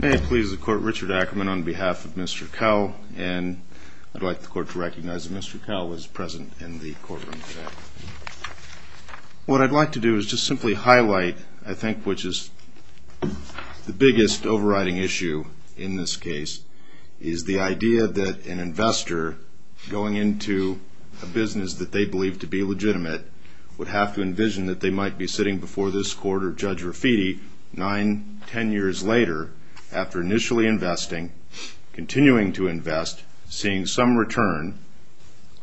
May it please the court, Richard Ackerman on behalf of Mr. Kowell, and I'd like the court to recognize that Mr. Kowell was present in the courtroom today. What I'd like to do is just simply highlight, I think, which is the biggest overriding issue in this case, is the idea that an investor going into a business that they believe to be legitimate would have to envision that they might be sitting before this court or Judge Rafiti nine, ten years later, after initially investing, continuing to invest, seeing some return,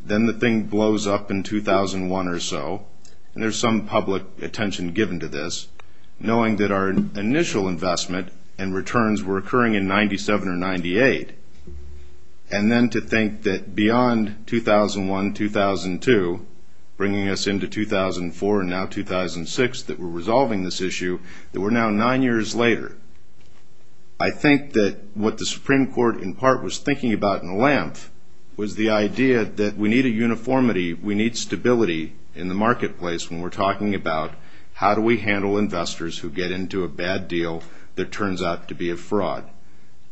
then the thing blows up in 2001 or so, and there's some public attention given to this, knowing that our initial investment and returns were occurring in 97 or 98, and then to think that beyond 2001, 2002, bringing us into 2004 and now 2006 that we're resolving this issue, that we're now nine years later. I think that what the Supreme Court in part was thinking about in a lamp was the idea that we need a uniformity, we need stability in the marketplace when we're talking about how do we handle investors who get into a bad deal that turns out to be a fraud.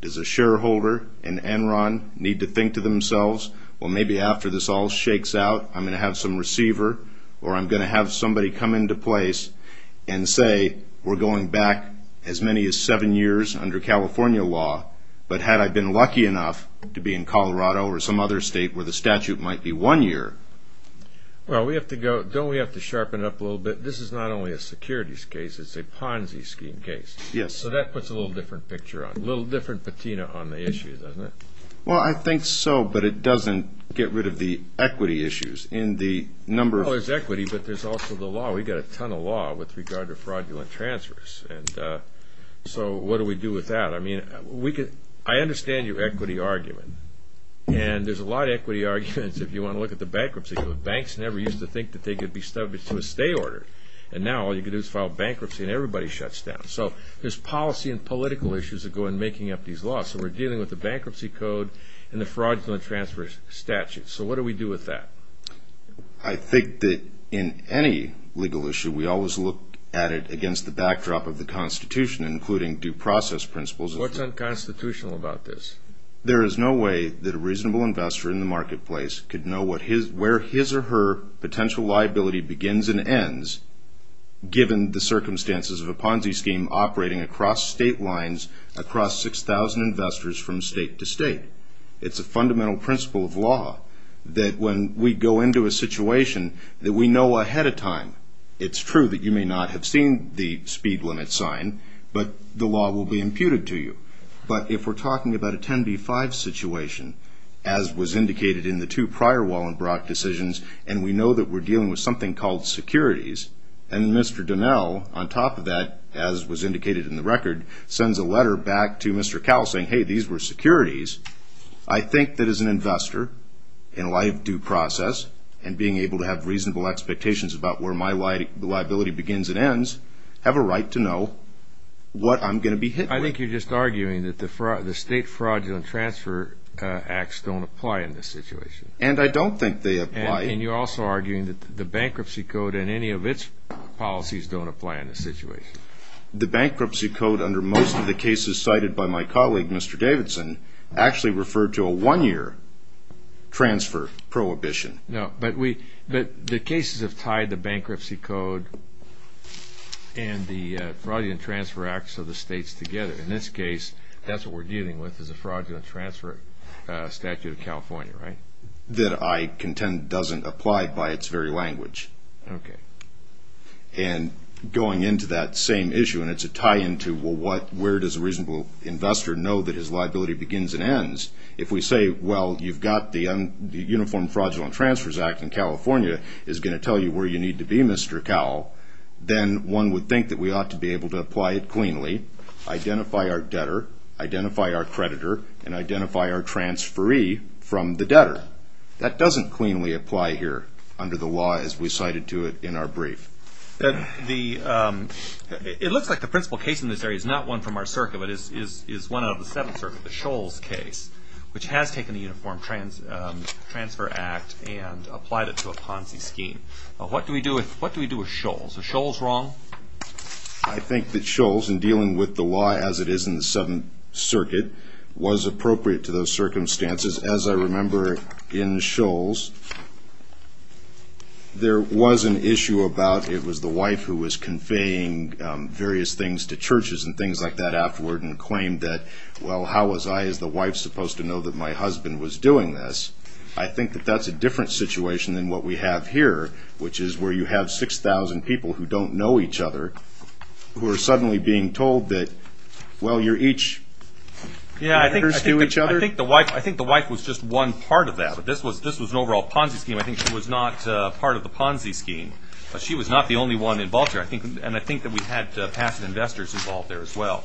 Does a shareholder in Enron need to think to themselves, well, maybe after this all shakes out, I'm going to have some receiver or I'm going to have somebody come into place and say we're going back as many as seven years under California law, but had I been lucky enough to be in Colorado or some other state where the statute might be one year. Well, don't we have to sharpen it up a little bit? This is not only a securities case, it's a Ponzi scheme case. Yes. So that puts a little different picture on it, a little different patina on the issue, doesn't it? Well, I think so, but it doesn't get rid of the equity issues in the number of... Well, there's equity, but there's also the law. We've got a ton of law with regard to fraudulent transfers, and so what do we do with that? I mean, I understand your equity argument, and there's a lot of equity arguments if you want to look at the bankruptcy. Banks never used to think that they could be subject to a stay order, and now all you can do is file bankruptcy and everybody shuts down. So there's policy and political issues that go in making up these laws. So we're dealing with the bankruptcy code and the fraudulent transfer statute. So what do we do with that? I think that in any legal issue we always look at it against the backdrop of the Constitution, including due process principles. What's unconstitutional about this? There is no way that a reasonable investor in the marketplace could know where his or her potential liability begins given the circumstances of a Ponzi scheme operating across state lines, across 6,000 investors from state to state. It's a fundamental principle of law that when we go into a situation that we know ahead of time. It's true that you may not have seen the speed limit sign, but the law will be imputed to you. But if we're talking about a 10B-5 situation, as was indicated in the two prior Wallenbrock decisions, and we know that we're dealing with something called securities, and Mr. Donnell, on top of that, as was indicated in the record, sends a letter back to Mr. Cowell saying, hey, these were securities, I think that as an investor in a live due process and being able to have reasonable expectations about where my liability begins and ends, have a right to know what I'm going to be hit with. I think you're just arguing that the state fraudulent transfer acts don't apply in this situation. And I don't think they apply. And you're also arguing that the bankruptcy code and any of its policies don't apply in this situation. The bankruptcy code under most of the cases cited by my colleague, Mr. Davidson, actually referred to a one-year transfer prohibition. No, but the cases have tied the bankruptcy code and the fraudulent transfer acts of the states together. In this case, that's what we're dealing with is a fraudulent transfer statute of California, right? That I contend doesn't apply by its very language. Okay. And going into that same issue, and it's a tie-in to, well, where does a reasonable investor know that his liability begins and ends? If we say, well, you've got the Uniform Fraudulent Transfers Act in California, it's going to tell you where you need to be, Mr. Cowell, then one would think that we ought to be able to apply it cleanly, identify our debtor, identify our creditor, and identify our transferee from the debtor. That doesn't cleanly apply here under the law as we cited to it in our brief. It looks like the principal case in this area is not one from our circuit, but is one out of the seven circuits, the Scholes case, which has taken the Uniform Transfer Act and applied it to a Ponzi scheme. What do we do with Scholes? Is Scholes wrong? I think that Scholes, in dealing with the law as it is in the Seventh Circuit, was appropriate to those circumstances. As I remember in Scholes, there was an issue about it was the wife who was conveying various things to churches and things like that afterward and claimed that, well, how was I as the wife supposed to know that my husband was doing this? I think that that's a different situation than what we have here, which is where you have 6,000 people who don't know each other who are suddenly being told that, well, you're each partners to each other. I think the wife was just one part of that, but this was an overall Ponzi scheme. I think she was not part of the Ponzi scheme, but she was not the only one involved here, and I think that we had passive investors involved there as well.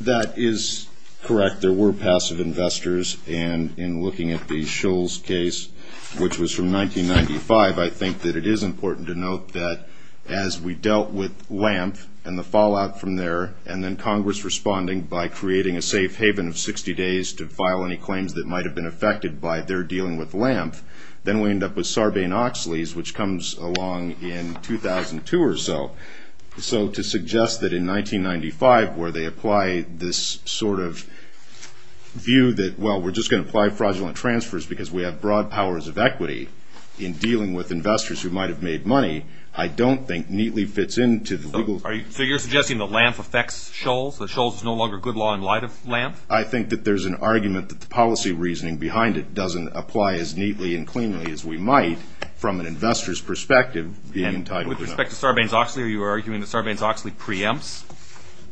That is correct. There were passive investors, and in looking at the Scholes case, which was from 1995, I think that it is important to note that as we dealt with Lampf and the fallout from there and then Congress responding by creating a safe haven of 60 days to file any claims that might have been affected by their dealing with Lampf, then we end up with Sarbanes-Oxley's, which comes along in 2002 or so. So to suggest that in 1995, where they apply this sort of view that, well, we're just going to apply fraudulent transfers because we have broad powers of equity in dealing with investors who might have made money, I don't think neatly fits into the legal. So you're suggesting that Lampf affects Scholes, that Scholes is no longer good law in light of Lampf? I think that there's an argument that the policy reasoning behind it doesn't apply as neatly and cleanly as we might from an investor's perspective being entitled to know. With respect to Sarbanes-Oxley, are you arguing that Sarbanes-Oxley preempts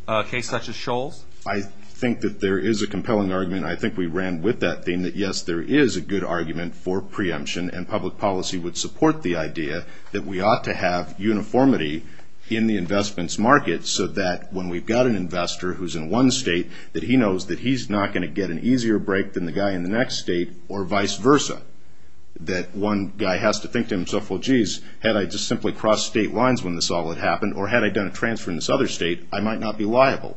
a case such as Scholes? I think that there is a compelling argument. I think we ran with that theme that, yes, there is a good argument for preemption, and public policy would support the idea that we ought to have uniformity in the investments market so that when we've got an investor who's in one state, that he knows that he's not going to get an easier break than the guy in the next state or vice versa, that one guy has to think to himself, well, geez, had I just simply crossed state lines when this all had happened, or had I done a transfer in this other state, I might not be liable.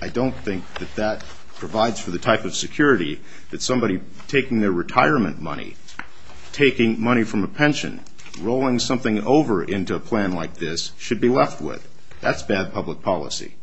I don't think that that provides for the type of security that somebody taking their retirement money, taking money from a pension, rolling something over into a plan like this, should be left with. That's bad public policy.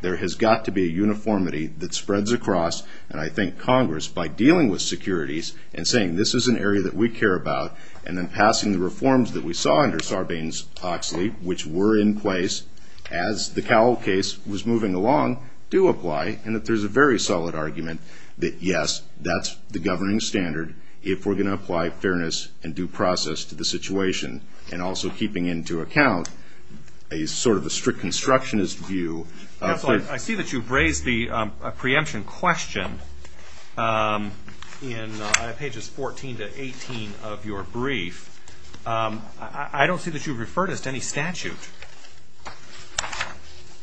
There has got to be a uniformity that spreads across, and I think Congress, by dealing with securities and saying this is an area that we care about, and then passing the reforms that we saw under Sarbanes-Oxley, which were in place as the Cowell case was moving along, do apply, and that there's a very solid argument that, yes, that's the governing standard if we're going to apply fairness and due process to the situation, and also keeping into account a sort of a strict constructionist view. Counsel, I see that you've raised the preemption question in pages 14 to 18 of your brief. I don't see that you've referred us to any statute.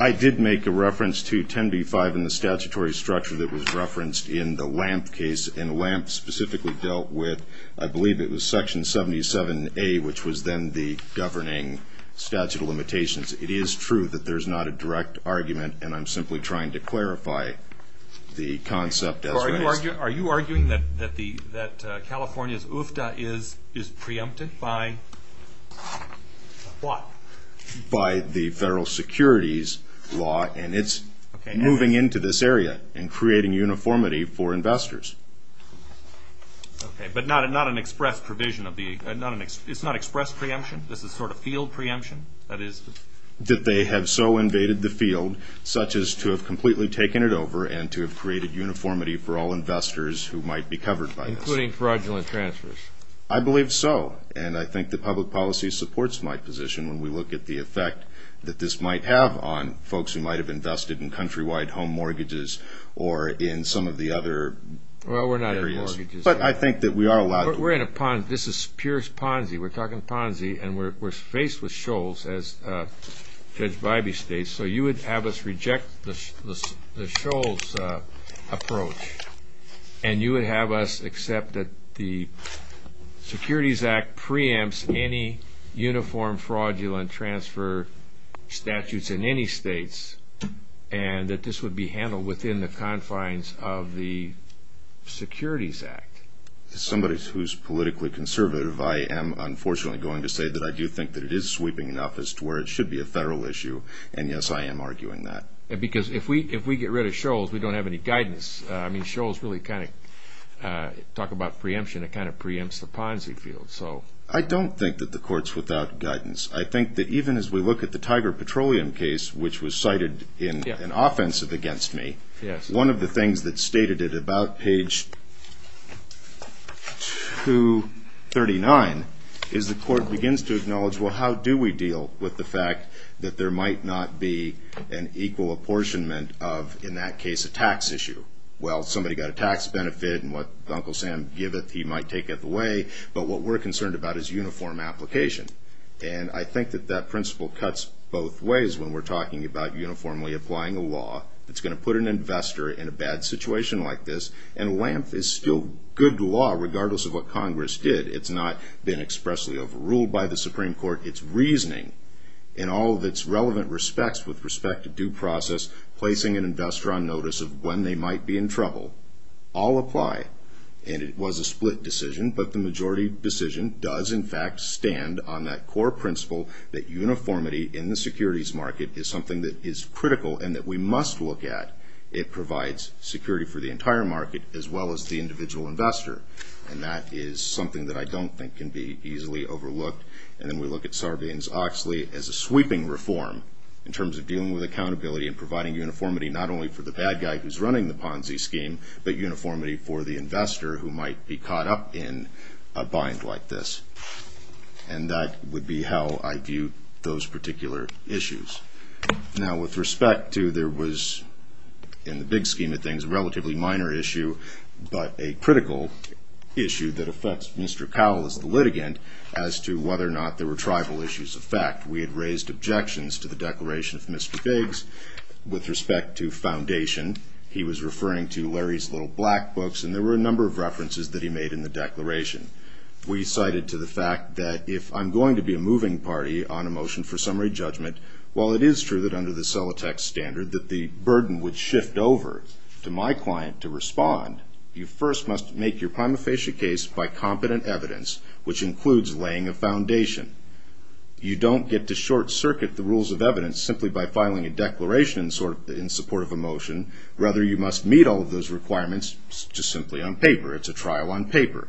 I did make a reference to 10b-5 in the statutory structure that was referenced in the Lampf case, and Lampf specifically dealt with, I believe it was Section 77A, which was then the governing statute of limitations. It is true that there's not a direct argument, and I'm simply trying to clarify the concept as raised. Are you arguing that California's UFTA is preempted by what? By the federal securities law, and it's moving into this area and creating uniformity for investors. Okay, but not an express provision of the – it's not express preemption? This is sort of field preemption? That they have so invaded the field, such as to have completely taken it over and to have created uniformity for all investors who might be covered by this. Including fraudulent transfers. I believe so, and I think the public policy supports my position when we look at the effect that this might have on folks who might have invested in countrywide home mortgages or in some of the other areas. Well, we're not in mortgages. But I think that we are allowed to – We're in a – this is Pierce-Ponzi. We're talking Ponzi, and we're faced with Scholz, as Judge Bybee states. So you would have us reject the Scholz approach, and you would have us accept that the Securities Act preempts any uniform fraudulent transfer statutes in any states and that this would be handled within the confines of the Securities Act. As somebody who's politically conservative, I am unfortunately going to say that I do think that it is sweeping enough as to where it should be a federal issue, and yes, I am arguing that. Because if we get rid of Scholz, we don't have any guidance. I mean, Scholz really kind of – talk about preemption, it kind of preempts the Ponzi field. I don't think that the court's without guidance. I think that even as we look at the Tiger Petroleum case, which was cited in an offensive against me, one of the things that's stated at about page 239 is the court begins to acknowledge, well, how do we deal with the fact that there might not be an equal apportionment of, in that case, a tax issue? Well, somebody got a tax benefit, and what Uncle Sam giveth, he might take it away. But what we're concerned about is uniform application, and I think that that principle cuts both ways when we're talking about uniformly applying a law that's going to put an investor in a bad situation like this. And Lampf is still good law regardless of what Congress did. It's not been expressly overruled by the Supreme Court. Its reasoning in all of its relevant respects with respect to due process, placing an investor on notice of when they might be in trouble, all apply. And it was a split decision, but the majority decision does in fact stand on that core principle that uniformity in the securities market is something that is critical and that we must look at. It provides security for the entire market as well as the individual investor, and that is something that I don't think can be easily overlooked. And then we look at Sarbanes-Oxley as a sweeping reform in terms of dealing with accountability and providing uniformity not only for the bad guy who's running the Ponzi scheme, but uniformity for the investor who might be caught up in a bind like this. And that would be how I view those particular issues. Now with respect to there was, in the big scheme of things, a relatively minor issue, but a critical issue that affects Mr. Cowell as the litigant as to whether or not there were tribal issues of fact. We had raised objections to the declaration of Mr. Biggs with respect to foundation. He was referring to Larry's little black books, and there were a number of references that he made in the declaration. We cited to the fact that if I'm going to be a moving party on a motion for summary judgment, while it is true that under the Celotex standard that the burden would shift over to my client to respond, you first must make your prima facie case by competent evidence, which includes laying a foundation. You don't get to short circuit the rules of evidence simply by filing a declaration in support of a motion. Rather, you must meet all of those requirements just simply on paper. It's a trial on paper.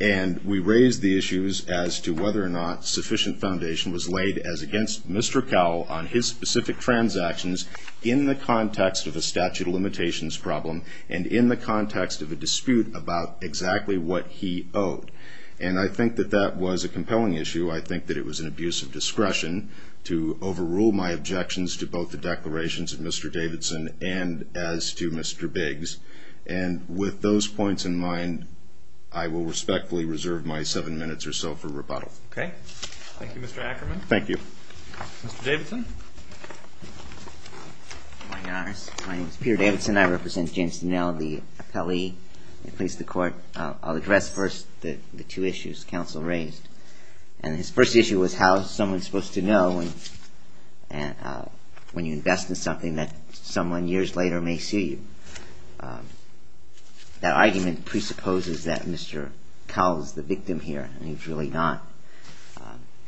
And we raised the issues as to whether or not sufficient foundation was laid as against Mr. Cowell on his specific transactions in the context of a statute of limitations problem and in the context of a dispute about exactly what he owed. And I think that that was a compelling issue. I think that it was an abuse of discretion to overrule my objections to both the declarations of Mr. Davidson and as to Mr. Biggs. And with those points in mind, I will respectfully reserve my seven minutes or so for rebuttal. Okay. Thank you, Mr. Ackerman. Thank you. Mr. Davidson. Good morning, Your Honors. My name is Peter Davidson. I represent James Dinell, the appellee that placed the court. I'll address first the two issues counsel raised. And his first issue was how is someone supposed to know when you invest in something that someone years later may sue you. That argument presupposes that Mr. Cowell is the victim here, and he's really not.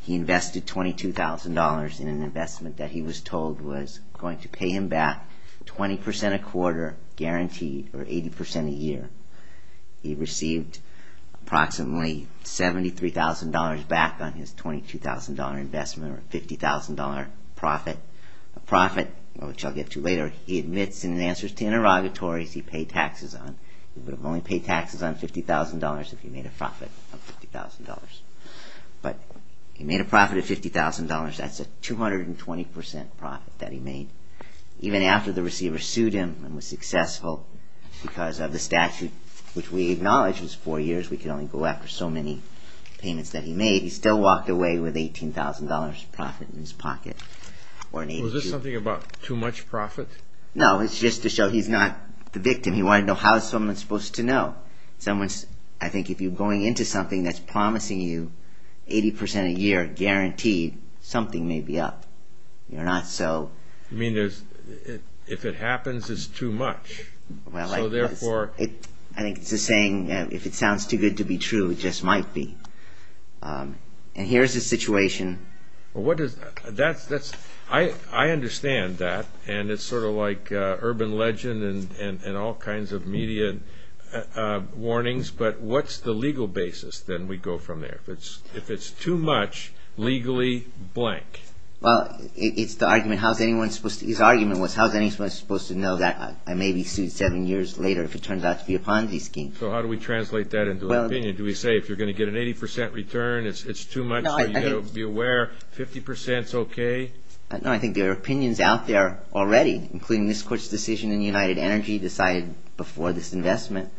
He invested $22,000 in an investment that he was told was going to pay him back 20% a quarter guaranteed or 80% a year. He received approximately $73,000 back on his $22,000 investment or $50,000 profit. A profit, which I'll get to later, he admits in answers to interrogatories he paid taxes on. He would have only paid taxes on $50,000 if he made a profit of $50,000. But he made a profit of $50,000. That's a 220% profit that he made. Even after the receiver sued him and was successful because of the statute, which we acknowledge is four years. We can only go after so many payments that he made. He still walked away with $18,000 profit in his pocket. Was this something about too much profit? No, it's just to show he's not the victim. He wanted to know how is someone supposed to know. I think if you're going into something that's promising you 80% a year guaranteed, something may be up. You mean if it happens, it's too much. I think it's a saying, if it sounds too good to be true, it just might be. And here's the situation. I understand that. And it's sort of like urban legend and all kinds of media warnings. But what's the legal basis? Then we go from there. If it's too much, legally blank. Well, his argument was how is anyone supposed to know that I may be sued seven years later if it turns out to be a Ponzi scheme. So how do we translate that into an opinion? Do we say if you're going to get an 80% return, it's too much, be aware, 50% is okay? No, I think there are opinions out there already, including this court's decision in United Energy decided before this investment,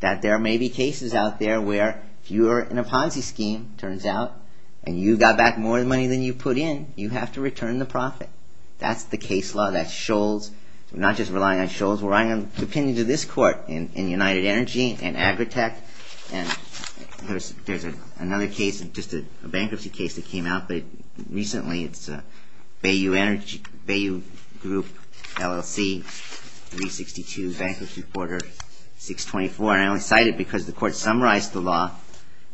that there may be cases out there where if you're in a Ponzi scheme, it turns out, and you got back more money than you put in, you have to return the profit. That's the case law. That's Scholz. We're not just relying on Scholz. We're relying on opinions of this court in United Energy and Agritech. And there's another case, just a bankruptcy case that came out recently. It's Bayou Energy, Bayou Group, LLC, 362 Bankruptcy Porter 624. And I only cite it because the court summarized the law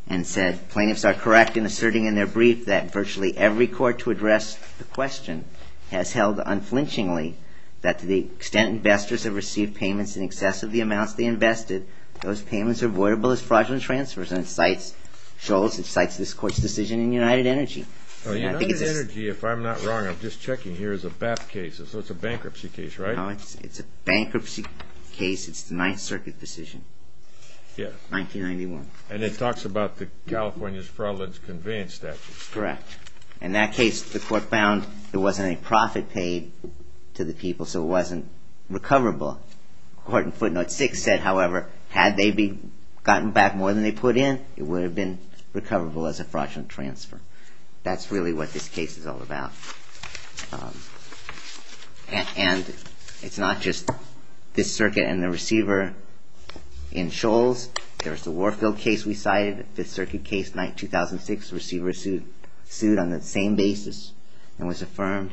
and said, Plaintiffs are correct in asserting in their brief that virtually every court to address the question has held unflinchingly that to the extent investors have received payments in excess of the amounts they invested, those payments are voidable as fraudulent transfers. And it cites Scholz, it cites this court's decision in United Energy. United Energy, if I'm not wrong, I'm just checking here, is a BAP case, so it's a bankruptcy case, right? No, it's a bankruptcy case. It's the Ninth Circuit decision. Yes. 1991. And it talks about the California's fraudulence conveyance statute. Correct. In that case, the court found there wasn't any profit paid to the people, so it wasn't recoverable. Court in footnote six said, however, had they gotten back more than they put in, it would have been recoverable as a fraudulent transfer. That's really what this case is all about. And it's not just this circuit and the receiver in Scholz. There's the Warfield case we cited, Fifth Circuit case, 2006, receiver sued on the same basis and was affirmed.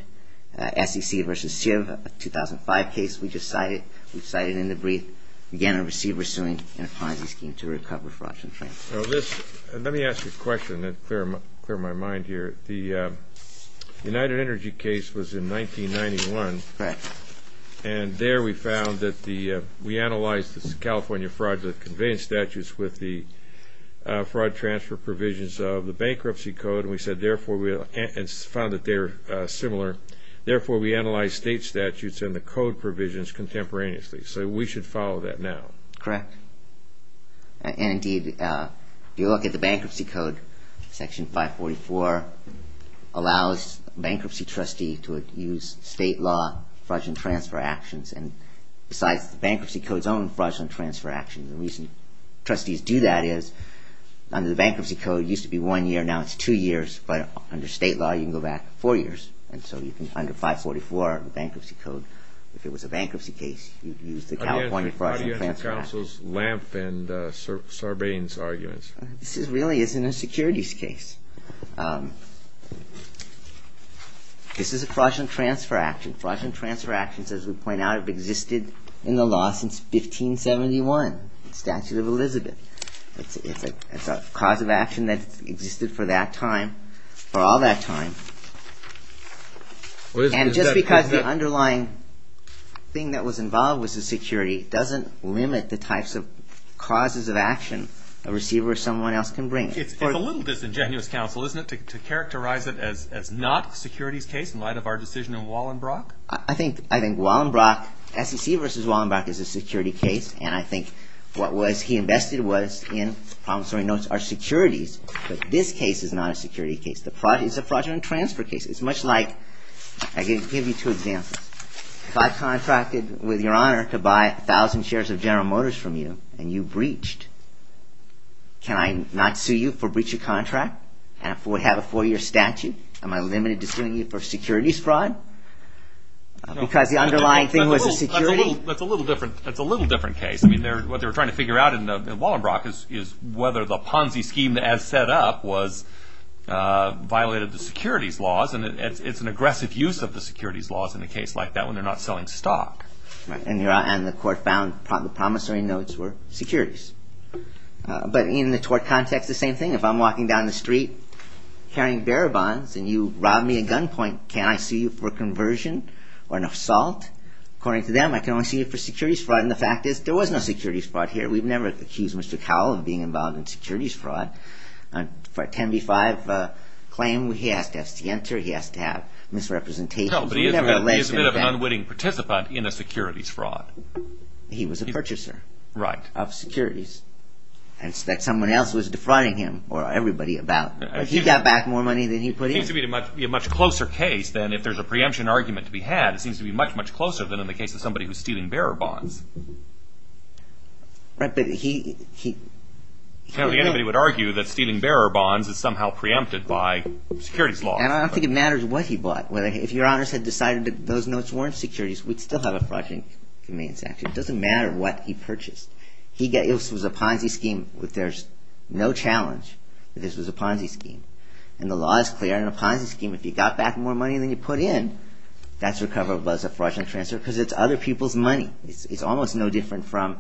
SEC v. CIV, 2005 case we just cited, we cited in the brief, again a receiver suing in a Ponzi scheme to recover fraudulent transfers. Let me ask you a question to clear my mind here. The United Energy case was in 1991. Correct. And there we found that the we analyzed the California fraudulence conveyance statutes with the fraud transfer provisions of the bankruptcy code. And we found that they're similar. Therefore, we analyzed state statutes and the code provisions contemporaneously. So we should follow that now. Correct. And, indeed, if you look at the bankruptcy code, Section 544 allows a bankruptcy trustee to use state law fraudulent transfer actions. And besides, the bankruptcy code's own fraudulent transfer actions. And the reason trustees do that is under the bankruptcy code, it used to be one year. Now it's two years. But under state law, you can go back four years. And so you can, under 544, the bankruptcy code, if it was a bankruptcy case, you'd use the California fraudulent transfer actions. Again, the Audience Council's Lampf and Sarbanes arguments. This really isn't a securities case. This is a fraudulent transfer action. Fraudulent transfer actions, as we point out, have existed in the law since 1571, the Statute of Elizabeth. It's a cause of action that existed for that time, for all that time. And just because the underlying thing that was involved was the security doesn't limit the types of causes of action a receiver or someone else can bring. It's a little disingenuous, Counsel, isn't it, to characterize it as not a securities case in light of our decision in Wallenbrock? I think Wallenbrock, SEC versus Wallenbrock, is a security case. And I think what he invested was in our securities. But this case is not a security case. It's a fraudulent transfer case. It's much like, I can give you two examples. If I contracted with Your Honor to buy 1,000 shares of General Motors from you and you breached, can I not sue you for breach of contract and have a four-year statute? Am I limited to suing you for securities fraud because the underlying thing was a security? That's a little different. That's a little different case. I mean, what they were trying to figure out in Wallenbrock is whether the Ponzi scheme as set up violated the securities laws. And it's an aggressive use of the securities laws in a case like that when they're not selling stock. And the court found the promissory notes were securities. But in the tort context, the same thing. If I'm walking down the street carrying bearer bonds and you rob me a gunpoint, can I sue you for conversion or an assault? According to them, I can only sue you for securities fraud. And the fact is there was no securities fraud here. We've never accused Mr. Cowell of being involved in securities fraud. For a 10 v. 5 claim, he has to have scienter. He has to have misrepresentations. No, but he is a bit of an unwitting participant in a securities fraud. He was a purchaser of securities that someone else was defrauding him or everybody about. But he got back more money than he put in. It seems to be a much closer case than if there's a preemption argument to be had. It seems to be much, much closer than in the case of somebody who's stealing bearer bonds. Right, but he... Anybody would argue that stealing bearer bonds is somehow preempted by securities law. And I don't think it matters what he bought. If your honors had decided that those notes weren't securities, we'd still have a fraudulent conveyance action. It doesn't matter what he purchased. It was a Ponzi scheme. There's no challenge that this was a Ponzi scheme. And the law is clear. In a Ponzi scheme, if you got back more money than you put in, that's recoverable as a fraudulent transfer because it's other people's money. It's almost no different from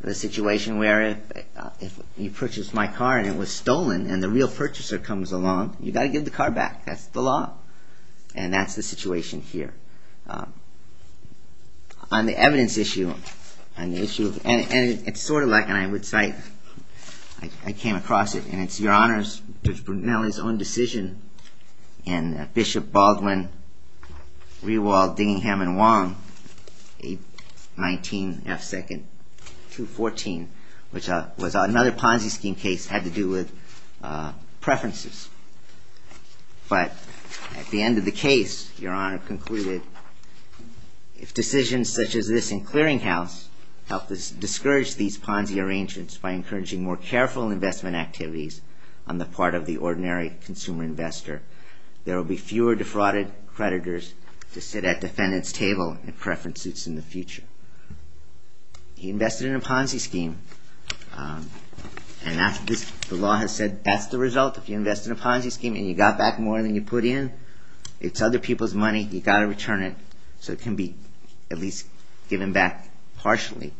the situation where if you purchased my car and it was stolen and the real purchaser comes along, you've got to give the car back. That's the law. And that's the situation here. On the evidence issue, on the issue of... And it's sort of like, and I would say, I came across it, and it's your honors, Judge Brunelli's own decision, and Bishop Baldwin, Riewald, Dingingham, and Wong, 819 F. 2nd, 214, which was another Ponzi scheme case, had to do with preferences. But at the end of the case, Your Honor concluded, if decisions such as this in Clearinghouse help us discourage these Ponzi arrangements by encouraging more careful investment activities on the part of the ordinary consumer investor, there will be fewer defrauded creditors to sit at defendant's table in preference suits in the future. He invested in a Ponzi scheme, and the law has said that's the result. If you invest in a Ponzi scheme and you got back more than you put in, it's other people's money. You've got to return it so it can be at least given back partially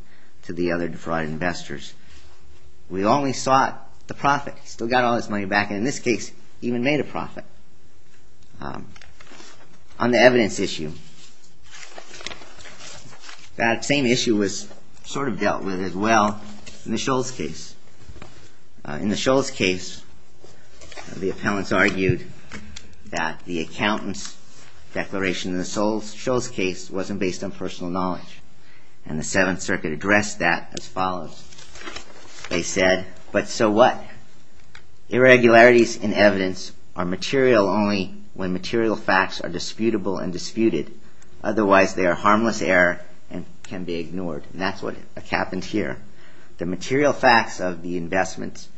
to the other defrauded investors. We only sought the profit. Still got all this money back, and in this case, even made a profit. On the evidence issue, that same issue was sort of dealt with as well in the Scholes case. In the Scholes case, the appellants argued that the accountant's declaration in the Scholes case wasn't based on personal knowledge, and the Seventh Circuit addressed that as follows. They said, but so what? Irregularities in evidence are material only when material facts are disputable and disputed. Otherwise, they are harmless error and can be ignored, and that's what happened here. The material facts of the investments,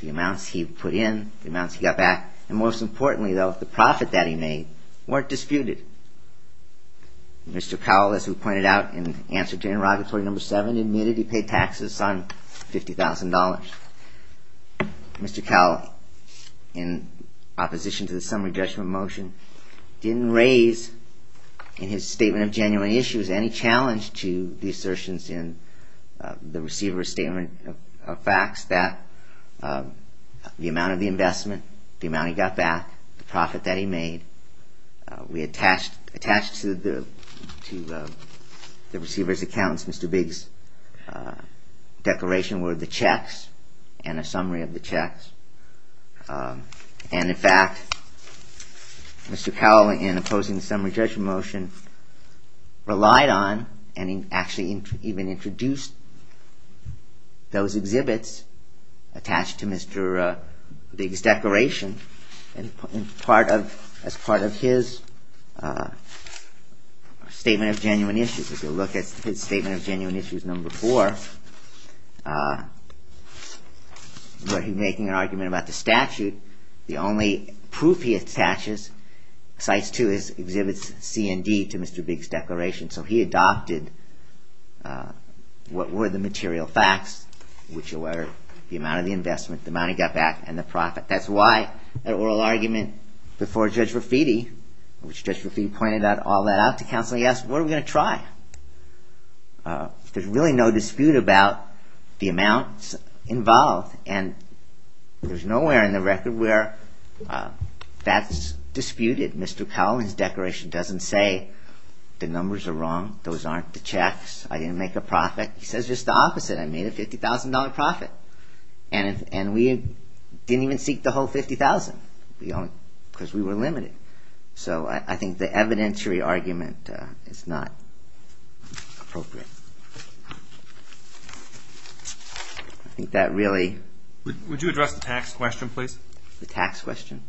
the amounts he put in, the amounts he got back, and most importantly, though, the profit that he made weren't disputed. Mr. Cowell, as we pointed out in answer to interrogatory number seven, admitted he paid taxes on $50,000. Mr. Cowell, in opposition to the summary judgment motion, didn't raise in his statement of genuine issues any challenge to the assertions in the receiver's statement of facts that the amount of the investment, the amount he got back, the profit that he made, we attached to the receiver's accountants, Mr. Biggs' declaration were the checks and a summary of the checks. And in fact, Mr. Cowell, in opposing the summary judgment motion, relied on, and actually even introduced those exhibits attached to Mr. Biggs' declaration as part of his statement of genuine issues. If you look at his statement of genuine issues number four, where he's making an argument about the statute, the only proof he attaches sites to is exhibits C and D to Mr. Biggs' declaration. So he adopted what were the material facts, which were the amount of the investment, the amount he got back, and the profit. That's why that oral argument before Judge Rafiti, which Judge Rafiti pointed all that out to counsel, he asked, what are we going to try? There's really no dispute about the amounts involved, and there's nowhere in the record where that's disputed. Mr. Cowell, in his declaration, doesn't say the numbers are wrong, those aren't the checks, I didn't make a profit. He says just the opposite, I made a $50,000 profit. And we didn't even seek the whole $50,000, because we were limited. So I think the evidentiary argument is not appropriate. I think that really... Would you address the tax question, please? The tax question?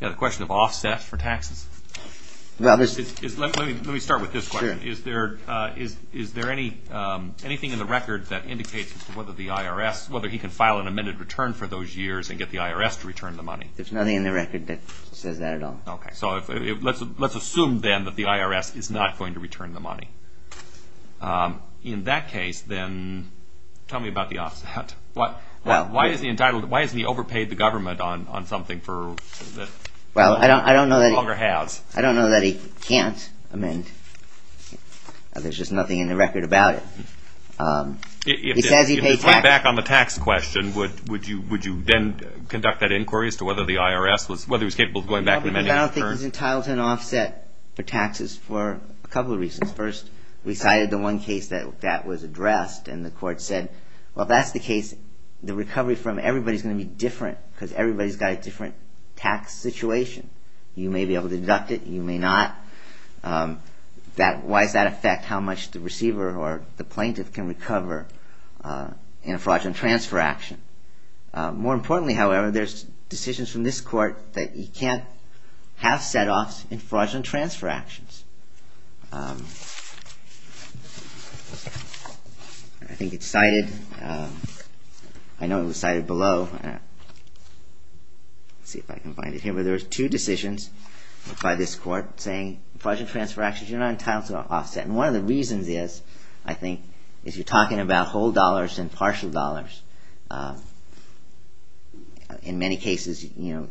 Yeah, the question of offset for taxes. Let me start with this question. Is there anything in the record that indicates as to whether the IRS, whether he can file an amended return for those years and get the IRS to return the money? There's nothing in the record that says that at all. Okay. So let's assume, then, that the IRS is not going to return the money. In that case, then, tell me about the offset. Why hasn't he overpaid the government on something that he no longer has? I don't know that he can't amend. There's just nothing in the record about it. If we go back on the tax question, would you then conduct that inquiry as to whether the IRS was capable of going back and amending the return? I don't think he's entitled to an offset for taxes for a couple of reasons. First, we cited the one case that that was addressed, and the court said, well, if that's the case, the recovery from everybody is going to be different because everybody's got a different tax situation. You may be able to deduct it. You may not. Why does that affect how much the receiver or the plaintiff can recover in a fraudulent transfer action? More importantly, however, there's decisions from this court that you can't have set-offs in fraudulent transfer actions. I think it's cited. I know it was cited below. Let's see if I can find it here. But there's two decisions by this court saying fraudulent transfer actions, you're not entitled to an offset. And one of the reasons is, I think, is you're talking about whole dollars and partial dollars. In many cases, in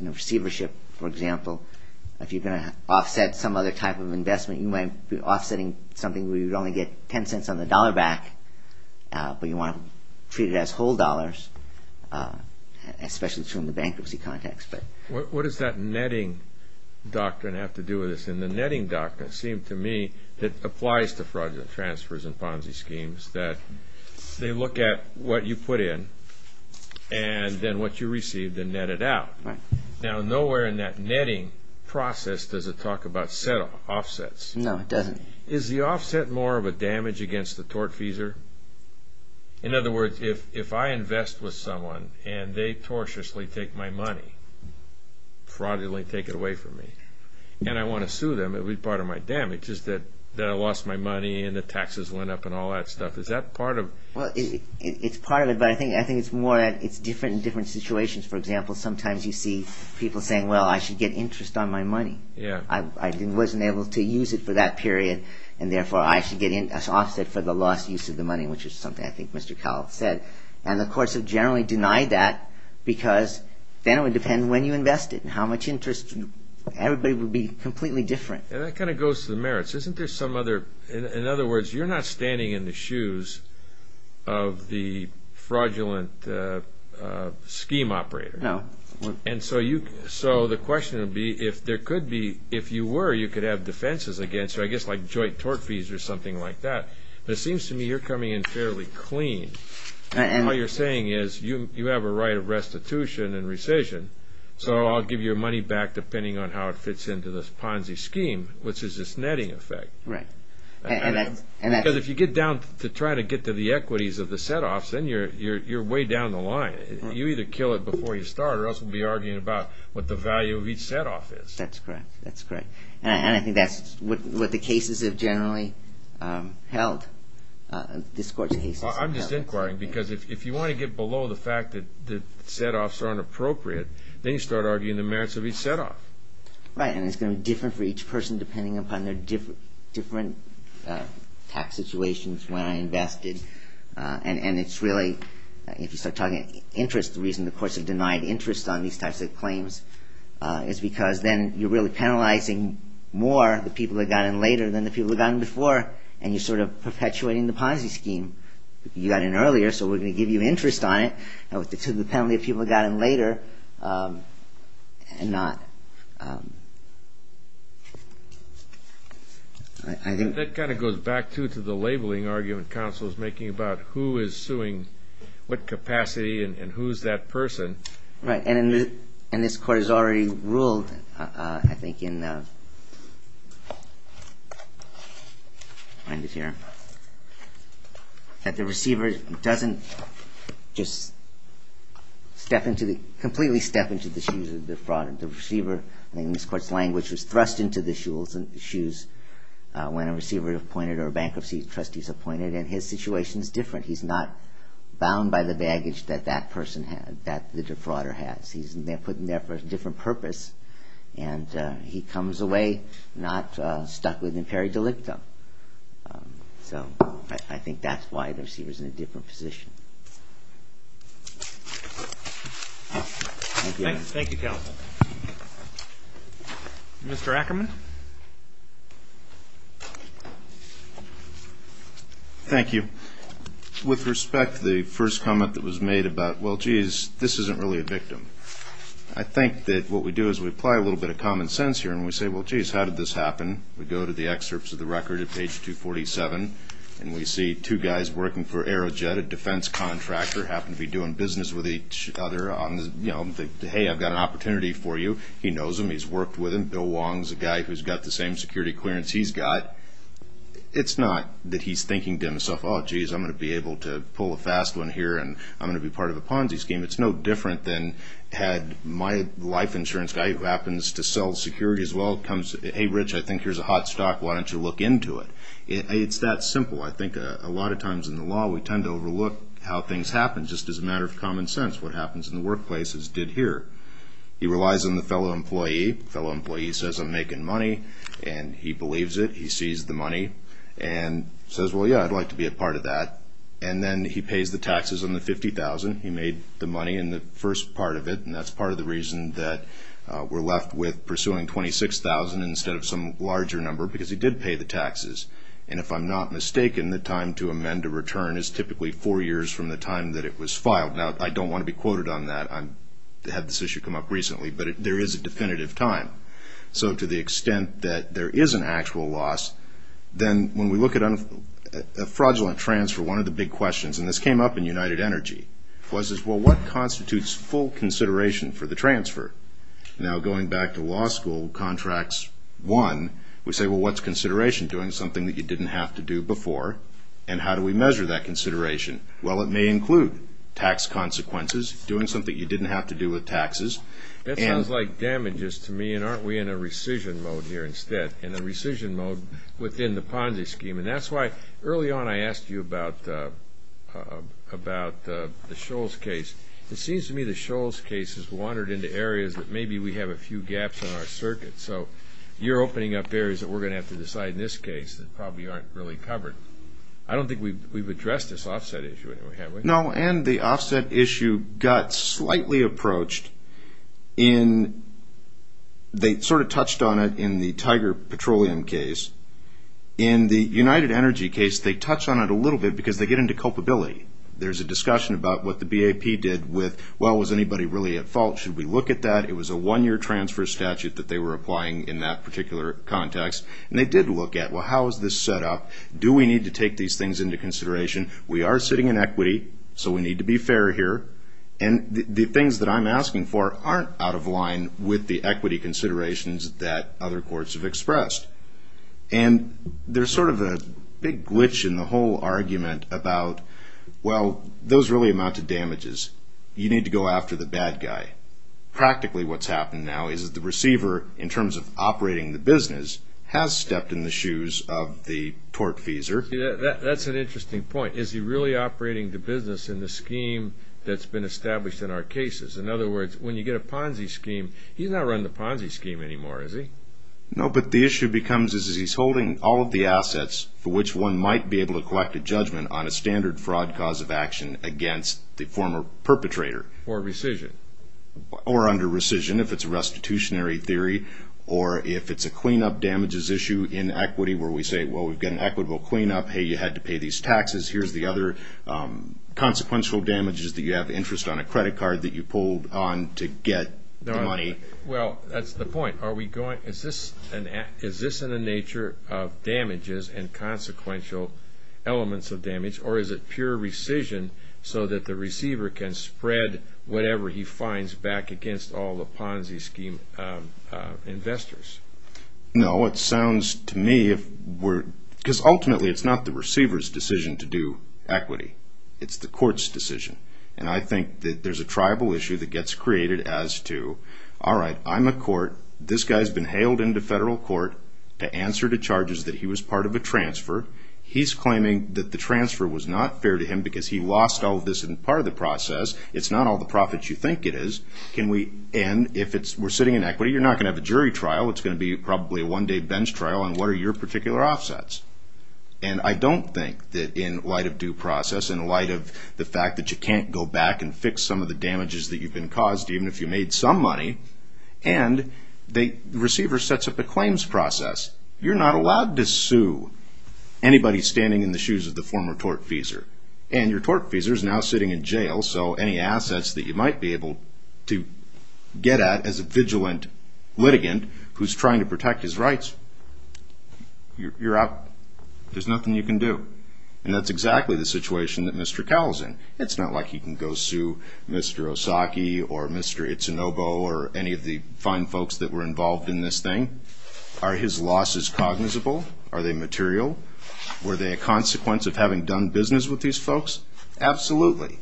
a receivership, for example, if you're going to offset some other type of investment, you might be offsetting something where you'd only get 10 cents on the dollar back, but you want to treat it as whole dollars, especially in the bankruptcy context. What does that netting doctrine have to do with this? And the netting doctrine, it seemed to me, that applies to fraudulent transfers and Ponzi schemes, that they look at what you put in and then what you received and net it out. Now, nowhere in that netting process does it talk about set-offs, offsets. No, it doesn't. Is the offset more of a damage against the tortfeasor? In other words, if I invest with someone and they tortiously take my money, fraudulently take it away from me, and I want to sue them, part of my damage is that I lost my money and the taxes went up and all that stuff. Is that part of it? Well, it's part of it, but I think it's more that it's different in different situations. For example, sometimes you see people saying, well, I should get interest on my money. I wasn't able to use it for that period, and therefore I should get an offset for the lost use of the money, which is something I think Mr. Cowell said. And the courts have generally denied that because then it would depend when you invest it and how much interest. Everybody would be completely different. And that kind of goes to the merits. In other words, you're not standing in the shoes of the fraudulent scheme operator. No. And so the question would be, if you were, you could have defenses against you, I guess like joint tortfeasor or something like that. But it seems to me you're coming in fairly clean. And what you're saying is you have a right of restitution and rescission, so I'll give you your money back depending on how it fits into this Ponzi scheme, which is this netting effect. Right. Because if you get down to trying to get to the equities of the set-offs, then you're way down the line. You either kill it before you start or else we'll be arguing about what the value of each set-off is. That's correct. That's correct. And I think that's what the cases have generally held, this court's cases have held. I'm just inquiring because if you want to get below the fact that set-offs are inappropriate, then you start arguing the merits of each set-off. Right. And it's going to be different for each person depending upon their different tax situations when I invested. And it's really, if you start talking interest, the reason the courts have denied interest on these types of claims is because then you're really penalizing more, the people that got in later than the people that got in before, and you're sort of perpetuating the Ponzi scheme. You got in earlier, so we're going to give you interest on it to the penalty of people that got in later and not. I think that kind of goes back, too, to the labeling argument counsel is making about who is suing what capacity and who's that person. Right. And this court has already ruled, I think, in, I'll find it here, that the receiver doesn't just step into the, completely step into the shoes of the fraud. The receiver, I think in this court's language, is thrust into the shoes when a receiver is appointed or a bankruptcy trustee is appointed, and his situation is different. He's not bound by the baggage that that person has, that the defrauder has. He's put in there for a different purpose, and he comes away not stuck within peri delicto. So I think that's why the receiver's in a different position. Thank you, counsel. Mr. Ackerman? Thank you. With respect to the first comment that was made about, well, geez, this isn't really a victim, I think that what we do is we apply a little bit of common sense here, and we say, well, geez, how did this happen? We go to the excerpts of the record at page 247, and we see two guys working for Aerojet, a defense contractor, happen to be doing business with each other on the, you know, the, hey, I've got an opportunity for you. He knows him. He's worked with him. Bill Wong's a guy who's got the same security clearance he's got. It's not that he's thinking to himself, oh, geez, I'm going to be able to pull a fast one here, and I'm going to be part of a Ponzi scheme. It's no different than had my life insurance guy, who happens to sell security as well, comes, hey, Rich, I think here's a hot stock. Why don't you look into it? It's that simple. I think a lot of times in the law we tend to overlook how things happen just as a matter of common sense. What happens in the workplace is did here. He relies on the fellow employee. The fellow employee says I'm making money, and he believes it. He sees the money and says, well, yeah, I'd like to be a part of that. And then he pays the taxes on the $50,000. He made the money in the first part of it, and that's part of the reason that we're left with pursuing $26,000 instead of some larger number, because he did pay the taxes. And if I'm not mistaken, the time to amend a return is typically four years from the time that it was filed. Now, I don't want to be quoted on that. I had this issue come up recently, but there is a definitive time. So to the extent that there is an actual loss, then when we look at a fraudulent transfer, one of the big questions, and this came up in United Energy, was, well, what constitutes full consideration for the transfer? Now, going back to law school, contracts one, we say, well, what's consideration? Doing something that you didn't have to do before, and how do we measure that consideration? Well, it may include tax consequences, doing something you didn't have to do with taxes. That sounds like damages to me, and aren't we in a rescission mode here instead, in a rescission mode within the Ponzi scheme? And that's why early on I asked you about the Sholes case. It seems to me the Sholes case has wandered into areas that maybe we have a few gaps in our circuit. So you're opening up areas that we're going to have to decide in this case that probably aren't really covered. I don't think we've addressed this offset issue anyway, have we? No, and the offset issue got slightly approached in they sort of touched on it in the Tiger Petroleum case. In the United Energy case, they touched on it a little bit because they get into culpability. There's a discussion about what the BAP did with, well, was anybody really at fault? Should we look at that? It was a one-year transfer statute that they were applying in that particular context, and they did look at, well, how is this set up? Do we need to take these things into consideration? We are sitting in equity, so we need to be fair here. And the things that I'm asking for aren't out of line with the equity considerations that other courts have expressed. And there's sort of a big glitch in the whole argument about, well, those really amount to damages. You need to go after the bad guy. Practically what's happened now is that the receiver, in terms of operating the business, has stepped in the shoes of the tortfeasor. That's an interesting point. Is he really operating the business in the scheme that's been established in our cases? In other words, when you get a Ponzi scheme, he's not running the Ponzi scheme anymore, is he? No, but the issue becomes is he's holding all of the assets for which one might be able to collect a judgment on a standard fraud cause of action against the former perpetrator. Or rescission. Or under rescission, if it's a restitutionary theory, or if it's a clean-up damages issue in equity where we say, well, we've got an equitable clean-up, hey, you had to pay these taxes, here's the other consequential damages that you have interest on a credit card that you pulled on to get the money. Well, that's the point. Is this in the nature of damages and consequential elements of damage, or is it pure rescission so that the receiver can spread whatever he finds back against all the Ponzi scheme investors? No, it sounds to me, because ultimately it's not the receiver's decision to do equity. It's the court's decision. And I think that there's a tribal issue that gets created as to, all right, I'm a court. This guy's been hailed into federal court to answer to charges that he was part of a transfer. He's claiming that the transfer was not fair to him because he lost all of this in part of the process. It's not all the profits you think it is. And if we're sitting in equity, you're not going to have a jury trial. It's going to be probably a one-day bench trial on what are your particular offsets. And I don't think that in light of due process, in light of the fact that you can't go back and fix some of the damages that you've been caused, even if you made some money, and the receiver sets up a claims process, you're not allowed to sue. Anybody's standing in the shoes of the former tortfeasor. And your tortfeasor's now sitting in jail, so any assets that you might be able to get at as a vigilant litigant who's trying to protect his rights, you're out. There's nothing you can do. And that's exactly the situation that Mr. Cowell's in. It's not like he can go sue Mr. Osaki or Mr. Itsunobu or any of the fine folks that were involved in this thing. Are his losses cognizable? Are they material? Were they a consequence of having done business with these folks? Absolutely.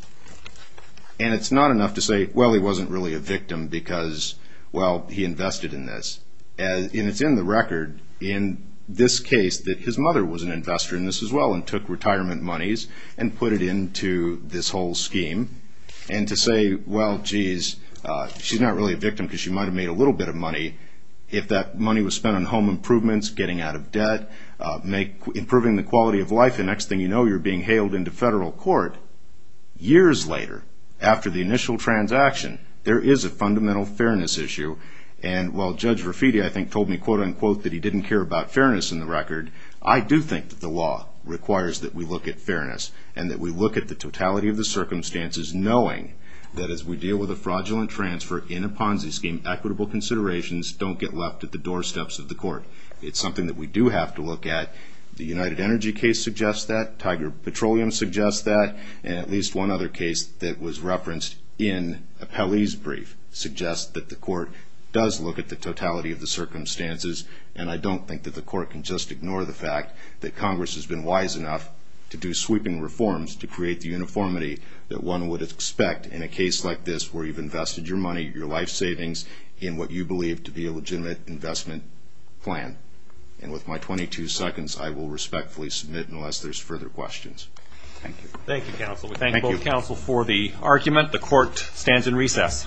And it's not enough to say, well, he wasn't really a victim because, well, he invested in this. And it's in the record in this case that his mother was an investor in this as well and took retirement monies and put it into this whole scheme. And to say, well, geez, she's not really a victim because she might have made a little bit of money, if that money was spent on home improvements, getting out of debt, improving the quality of life, the next thing you know, you're being hailed into federal court. Years later, after the initial transaction, there is a fundamental fairness issue. And while Judge Rafiti, I think, told me, quote, unquote, that he didn't care about fairness in the record, I do think that the law requires that we look at fairness and that we look at the totality of the circumstances, knowing that as we deal with a fraudulent transfer in a Ponzi scheme, equitable considerations don't get left at the doorsteps of the court. It's something that we do have to look at. The United Energy case suggests that. Tiger Petroleum suggests that. And at least one other case that was referenced in Appellee's brief suggests that the court does look at the totality of the circumstances. And I don't think that the court can just ignore the fact that Congress has been wise enough to do sweeping reforms to create the uniformity that one would expect in a case like this where you've invested your money, your life savings, in what you believe to be a legitimate investment plan. And with my 22 seconds, I will respectfully submit unless there's further questions. Thank you. Thank you, counsel. We thank both counsel for the argument. The court stands in recess. Thank you.